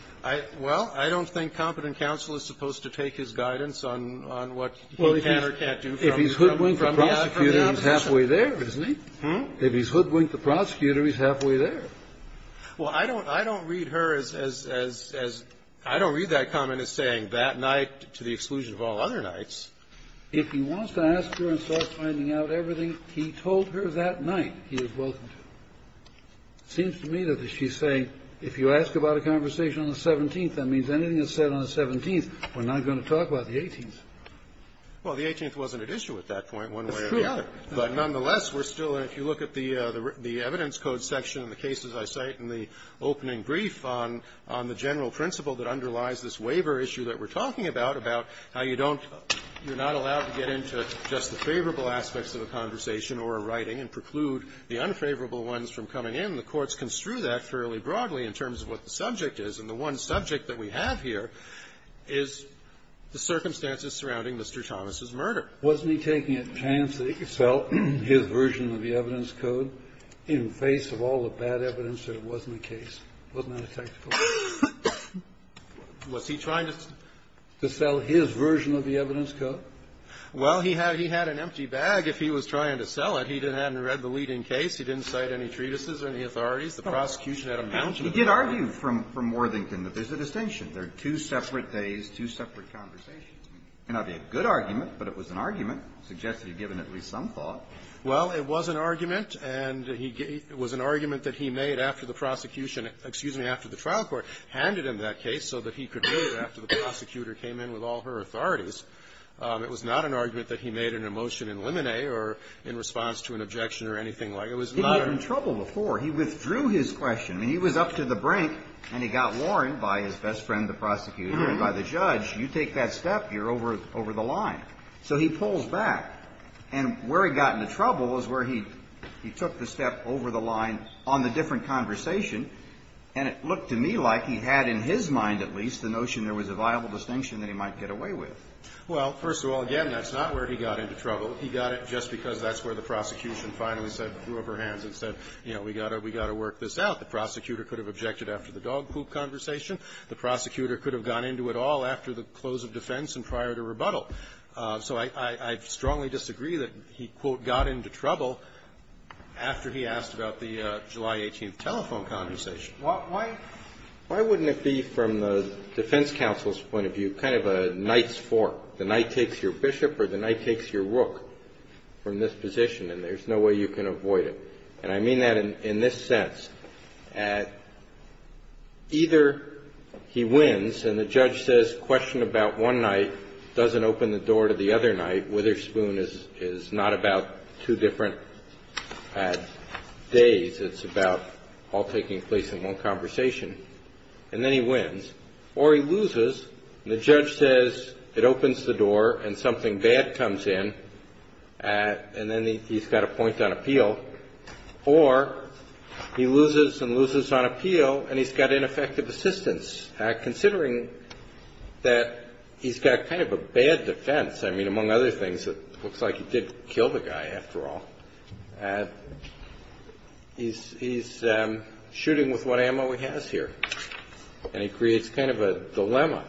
Well, I don't think competent counsel is supposed to take his guidance on what he can or can't do from the opposition. Well, if he's hoodwinked the prosecutor, he's halfway there, isn't he? If he's hoodwinked the prosecutor, he's halfway there. Well, I don't read her as as I don't read that comment as saying that night, to the exclusion of all other nights. If he wants to ask her and start finding out everything he told her that night, he is welcome to. It seems to me that if she's saying, if you ask about a conversation on the 17th, that means anything is said on the 17th. We're not going to talk about the 18th. Well, the 18th wasn't at issue at that point, one way or the other. That's true. But nonetheless, we're still, and if you look at the evidence code section and the cases I cite in the opening brief on the general principle that underlies this waiver issue that we're talking about, about how you don't you're not allowed to get into just the favorable aspects of a conversation or a writing and preclude the unfavorable ones from coming in. The courts construe that fairly broadly in terms of what the subject is. And the one subject that we have here is the circumstances surrounding Mr. Thomas' murder. Wasn't he taking a chance that he could sell his version of the evidence code in face of all the bad evidence that it wasn't the case? Wasn't that a tactical move? Was he trying to sell his version of the evidence code? Well, he had he had an empty bag if he was trying to sell it. He hadn't read the leading case. He didn't cite any treatises or any authorities. The prosecution had a mountain of evidence. He did argue from Worthington that there's a distinction. There are two separate days, two separate conversations. It may not be a good argument, but it was an argument. It suggests that he had given at least some thought. Well, it was an argument, and he gave it was an argument that he made after the prosecution excuse me, after the trial court handed him that case so that he could move after the prosecutor came in with all her authorities. It was not an argument that he made in a motion in limine or in response to an objection or anything like it. He had been in trouble before. He withdrew his question. I mean, he was up to the brink, and he got warned by his best friend, the prosecutor, and by the judge. You take that step, you're over the line. So he pulls back. And where he got into trouble is where he took the step over the line on the different conversation, and it looked to me like he had in his mind at least the notion there was a viable distinction that he might get away with. Well, first of all, again, that's not where he got into trouble. He got it just because that's where the prosecution finally said, threw up her hands and said, you know, we got to work this out. The prosecutor could have objected after the dog poop conversation. The prosecutor could have got into it all after the close of defense and prior to rebuttal. So I strongly disagree that he, quote, got into trouble after he asked about the July 18th telephone conversation. Why wouldn't it be from the defense counsel's point of view kind of a knight's rook from this position? And there's no way you can avoid it. And I mean that in this sense. Either he wins, and the judge says, question about one night, doesn't open the door to the other night. Witherspoon is not about two different days. It's about all taking place in one conversation. And then he wins. Or he loses, and the judge says, it opens the door and something bad comes in, and then he's got a point on appeal. Or he loses and loses on appeal, and he's got ineffective assistance, considering that he's got kind of a bad defense. I mean, among other things, it looks like he did kill the guy after all. He's shooting with what ammo he has here. And it creates kind of a dilemma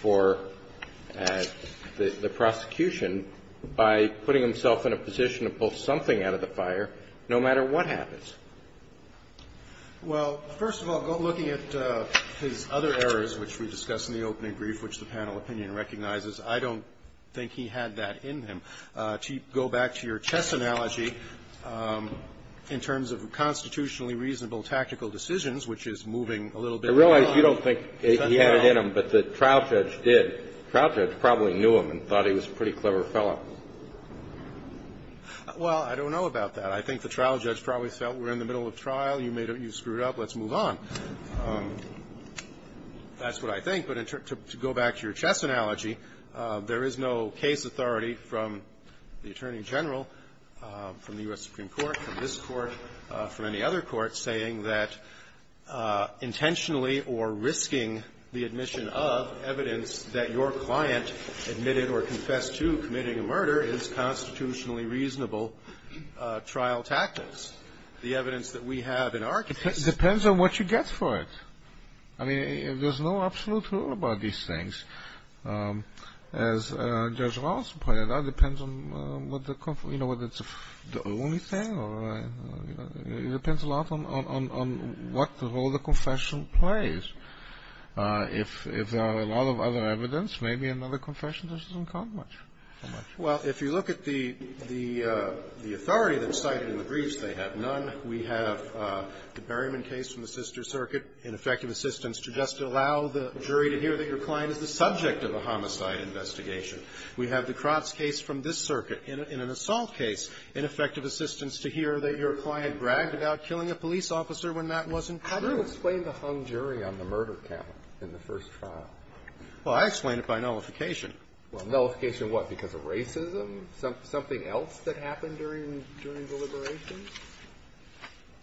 for the prosecution by putting himself in a position to pull something out of the fire, no matter what happens. Well, first of all, looking at his other errors, which we discussed in the opening brief, which the panel opinion recognizes, I don't think he had that in him. To go back to your chess analogy, in terms of constitutionally reasonable tactical decisions, which is moving a little bit. I realize you don't think he had it in him, but the trial judge did. The trial judge probably knew him and thought he was a pretty clever fellow. Well, I don't know about that. I think the trial judge probably felt we're in the middle of trial. You screwed up. Let's move on. That's what I think. But to go back to your chess analogy, there is no case authority from the attorney general, from the U.S. intentionally or risking the admission of evidence that your client admitted or confessed to committing a murder is constitutionally reasonable trial tactics. The evidence that we have in our case ---- It depends on what you get for it. I mean, there's no absolute rule about these things. As Judge Ross pointed out, it depends on, you know, whether it's the only thing or, you know, it depends a lot on what role the confession plays. If there are a lot of other evidence, maybe another confession doesn't count much. Well, if you look at the authority that's cited in the briefs, they have none. We have the Berryman case from the sister circuit in effective assistance to just allow the jury to hear that your client is the subject of a homicide investigation. We have the Crotz case from this circuit in an assault case in effective assistance to hear that your client bragged about killing a police officer when that wasn't true. How do you explain the hung jury on the murder count in the first trial? Well, I explain it by nullification. Well, nullification what? Because of racism? Something else that happened during the deliberations?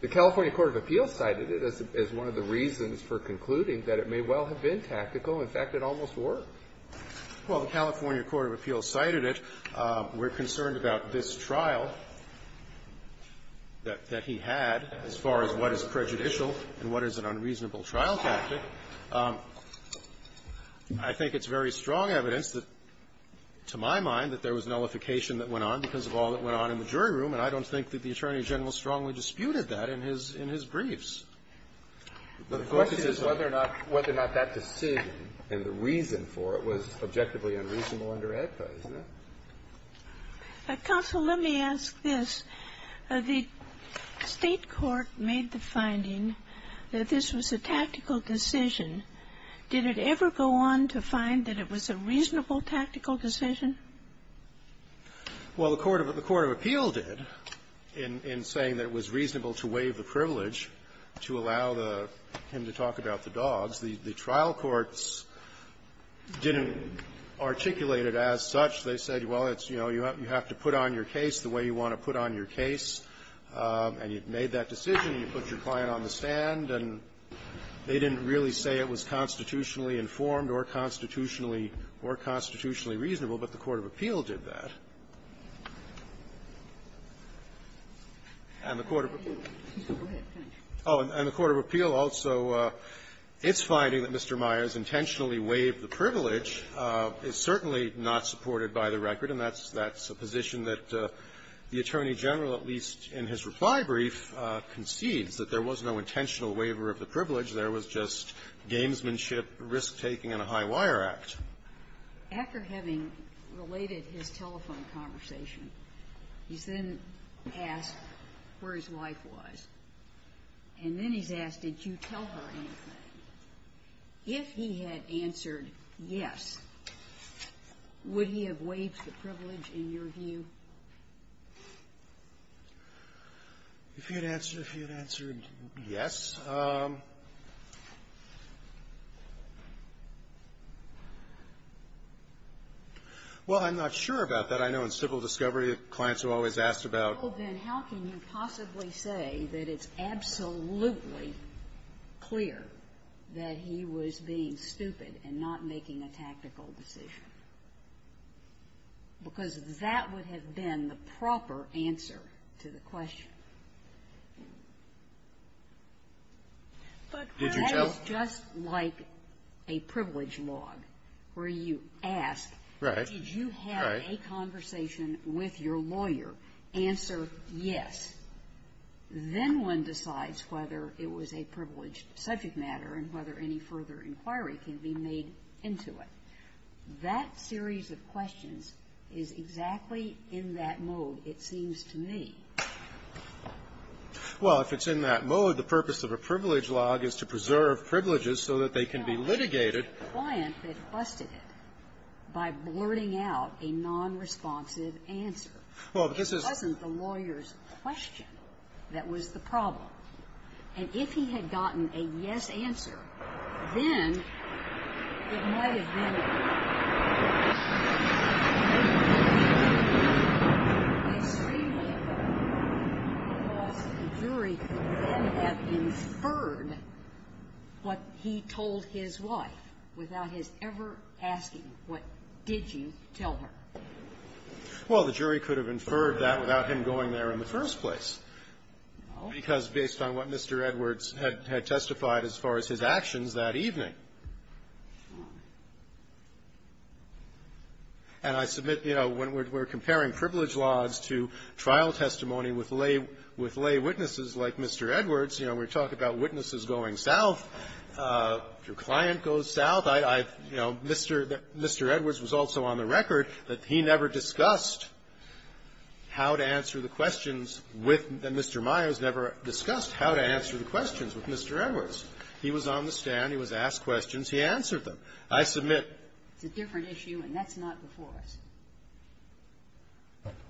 The California Court of Appeals cited it as one of the reasons for concluding that it may well have been tactical. In fact, it almost worked. Well, the California Court of Appeals cited it. We're concerned about this trial that he had as far as what is prejudicial and what is an unreasonable trial tactic. I think it's very strong evidence that, to my mind, that there was nullification that went on because of all that went on in the jury room, and I don't think that the Attorney General strongly disputed that in his briefs. The question is whether or not that decision and the reason for it was objectively unreasonable under AEDPA, isn't it? Counsel, let me ask this. The State court made the finding that this was a tactical decision. Did it ever go on to find that it was a reasonable tactical decision? Well, the Court of Appeals did in saying that it was reasonable to waive the privilege to allow the --" him to talk about the dogs. The trial courts didn't articulate it as such. They said, well, it's, you know, you have to put on your case the way you want to put on your case, and you've made that decision, and you put your client on the stand, and they didn't really say it was constitutionally informed or constitutionally reasonable, but the Court of Appeals did that. And the Court of Appeal also is finding that Mr. Myers intentionally waived the privilege is certainly not supported by the record, and that's a position that the Attorney General, at least in his reply brief, concedes, that there was no intentional waiver of the privilege, there was just gamesmanship, risk-taking, and a high-wire act. After having related his telephone conversation, he's then asked where his wife was, and then he's asked, did you tell her anything? If he had answered yes, would he have waived the privilege in your view? If he had answered, if he had answered yes, well, I'm not sure about that. I know in civil discovery, clients have always asked about the law. Well, then, how can you possibly say that it's absolutely clear that he was being the proper answer to the question? That is just like a privilege log, where you ask, did you have a conversation with your lawyer, answer yes, then one decides whether it was a privileged subject matter and whether any further inquiry can be made into it. That series of questions is exactly in that mode, it seems to me. Well, if it's in that mode, the purpose of a privilege log is to preserve privileges so that they can be litigated. It wasn't the client that busted it by blurting out a nonresponsive answer. Well, this is the lawyer's question that was the problem. And if he had gotten a yes answer, then it might have been a yes. I assume that the jury could then have inferred what he told his wife without his ever asking, what did you tell her? Well, the jury could have inferred that without him going there in the first place. No. Because based on what Mr. Edwards had testified as far as his actions that evening. And I submit, you know, when we're comparing privilege logs to trial testimony with lay witnesses like Mr. Edwards, you know, we talk about witnesses going south. If your client goes south, I've, you know, Mr. Edwards was also on the record that he never discussed how to answer the questions with Mr. Myers, never discussed how to answer the questions with Mr. Edwards. He was on the stand. He was asked questions. He answered them. I submit. It's a different issue, and that's not before us.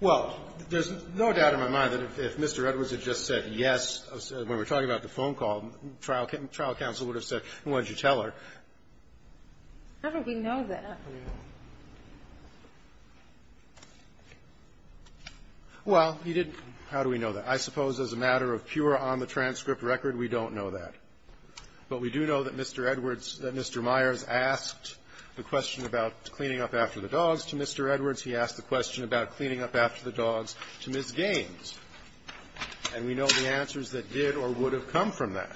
Well, there's no doubt in my mind that if Mr. Edwards had just said yes, when we're talking about the phone call, trial counsel would have said, well, what did you tell her? How do we know that? Well, he didn't. How do we know that? I suppose as a matter of pure on-the-transcript record, we don't know that. But we do know that Mr. Edwards, that Mr. Myers asked the question about cleaning up after the dogs to Mr. Edwards. He asked the question about cleaning up after the dogs to Ms. Gaines. And we know the answers that did or would have come from that.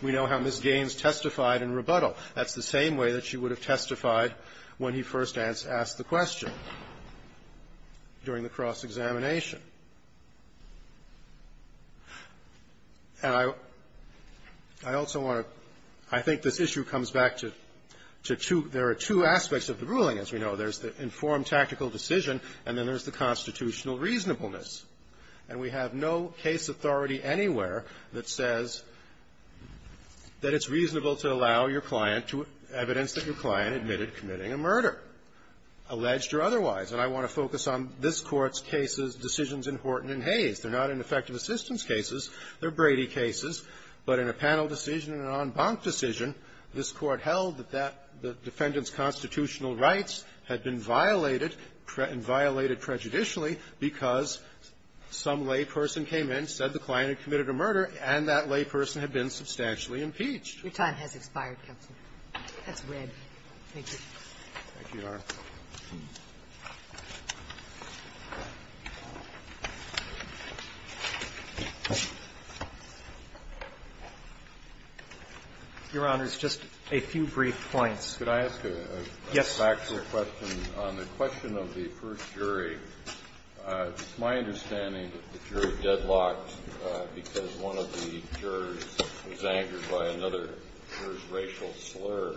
We know how Ms. Gaines testified in rebuttal. That's the same way that she would have testified when he first asked the question during the cross-examination. And I also want to – I think this issue comes back to two – there are two aspects of the ruling, as we know. There's the informed tactical decision, and then there's the constitutional reasonableness. And we have no case authority anywhere that says that it's reasonable to allow your client to – evidence that your client admitted committing a murder, alleged or otherwise. And I want to focus on this Court's cases, decisions in Horton and Hayes. They're not ineffective assistance cases. They're Brady cases. But in a panel decision and an en banc decision, this Court held that that – the Some layperson came in, said the client had committed a murder, and that layperson had been substantially impeached. Your time has expired, counsel. That's red. Thank you. Thank you, Your Honor. Your Honor, just a few brief points. Could I ask a factual question? Yes, sir. On the question of the first jury, it's my understanding that the jury deadlocked because one of the jurors was angered by another juror's racial slur,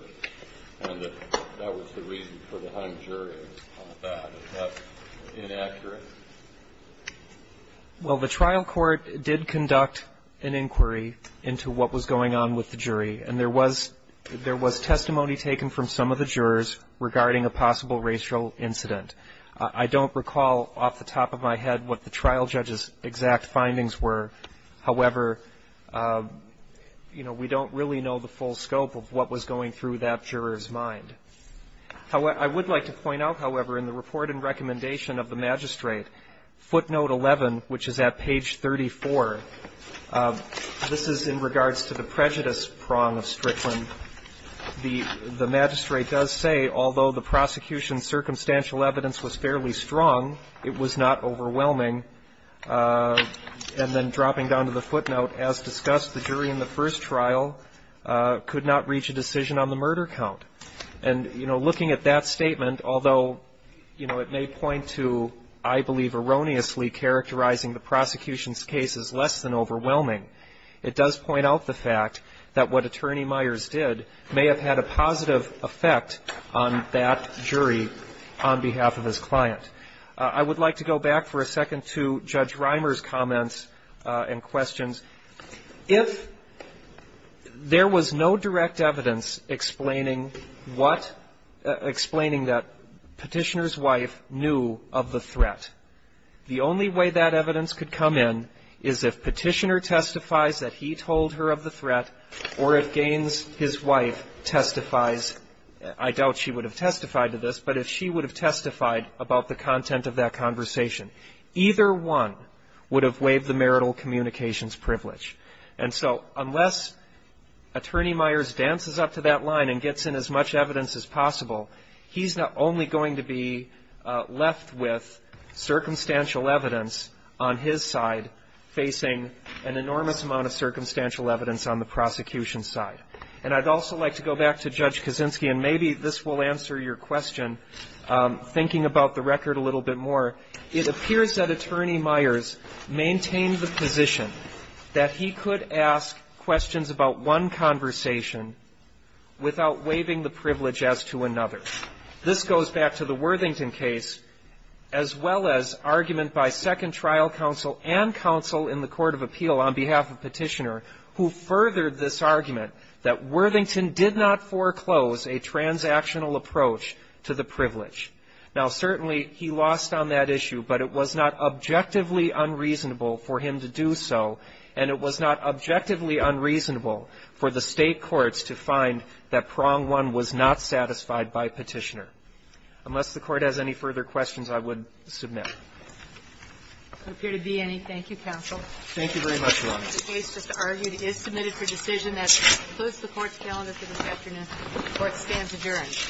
and that that was the reason for the hung jury and all that. Is that inaccurate? Well, the trial court did conduct an inquiry into what was going on with the jury. And there was – there was testimony taken from some of the jurors regarding a possible racial incident. I don't recall off the top of my head what the trial judge's exact findings were. However, you know, we don't really know the full scope of what was going through that juror's mind. I would like to point out, however, in the report and recommendation of the magistrate, footnote 11, which is at page 34, this is in regards to the prejudice prong of Strickland. The magistrate does say, although the prosecution's circumstantial evidence was fairly strong, it was not overwhelming. And then dropping down to the footnote, as discussed, the jury in the first trial could not reach a decision on the murder count. And, you know, looking at that statement, although, you know, it may point to, I believe, erroneously characterizing the prosecution's case as less than overwhelming, it does point out the fact that what Attorney Myers did may have had a positive effect on that jury on behalf of his client. I would like to go back for a second to Judge Reimer's comments and questions. If there was no direct evidence explaining what — explaining that Petitioner's wife knew of the threat, the only way that evidence could come in is if Petitioner testifies that he told her of the threat, or if Gaines, his wife, testifies — I doubt she would have testified to this, but if she would have testified about the content of that conversation, either one would have waived the marital communications privilege. And so unless Attorney Myers dances up to that line and gets in as much evidence as possible, he's only going to be left with circumstantial evidence on his side facing an enormous amount of circumstantial evidence on the prosecution's side. And I'd also like to go back to Judge Kaczynski, and maybe this will answer your question, thinking about the record a little bit more. It appears that Attorney Myers maintained the position that he could ask questions about one conversation without waiving the privilege as to another. This goes back to the Worthington case, as well as argument by Second Trial Counsel and counsel in the court of appeal on behalf of Petitioner, who furthered this argument that Worthington did not foreclose a transactional approach to the privilege. Now, certainly, he lost on that issue, but it was not objectively unreasonable for him to do so, and it was not objectively unreasonable for the State courts to find that prong one was not satisfied by Petitioner. Unless the Court has any further questions, I would submit. There appear to be any. Thank you, counsel. Thank you very much, Your Honor. The case just argued is submitted for decision. That concludes the Court's calendar for this afternoon. The Court stands adjourned.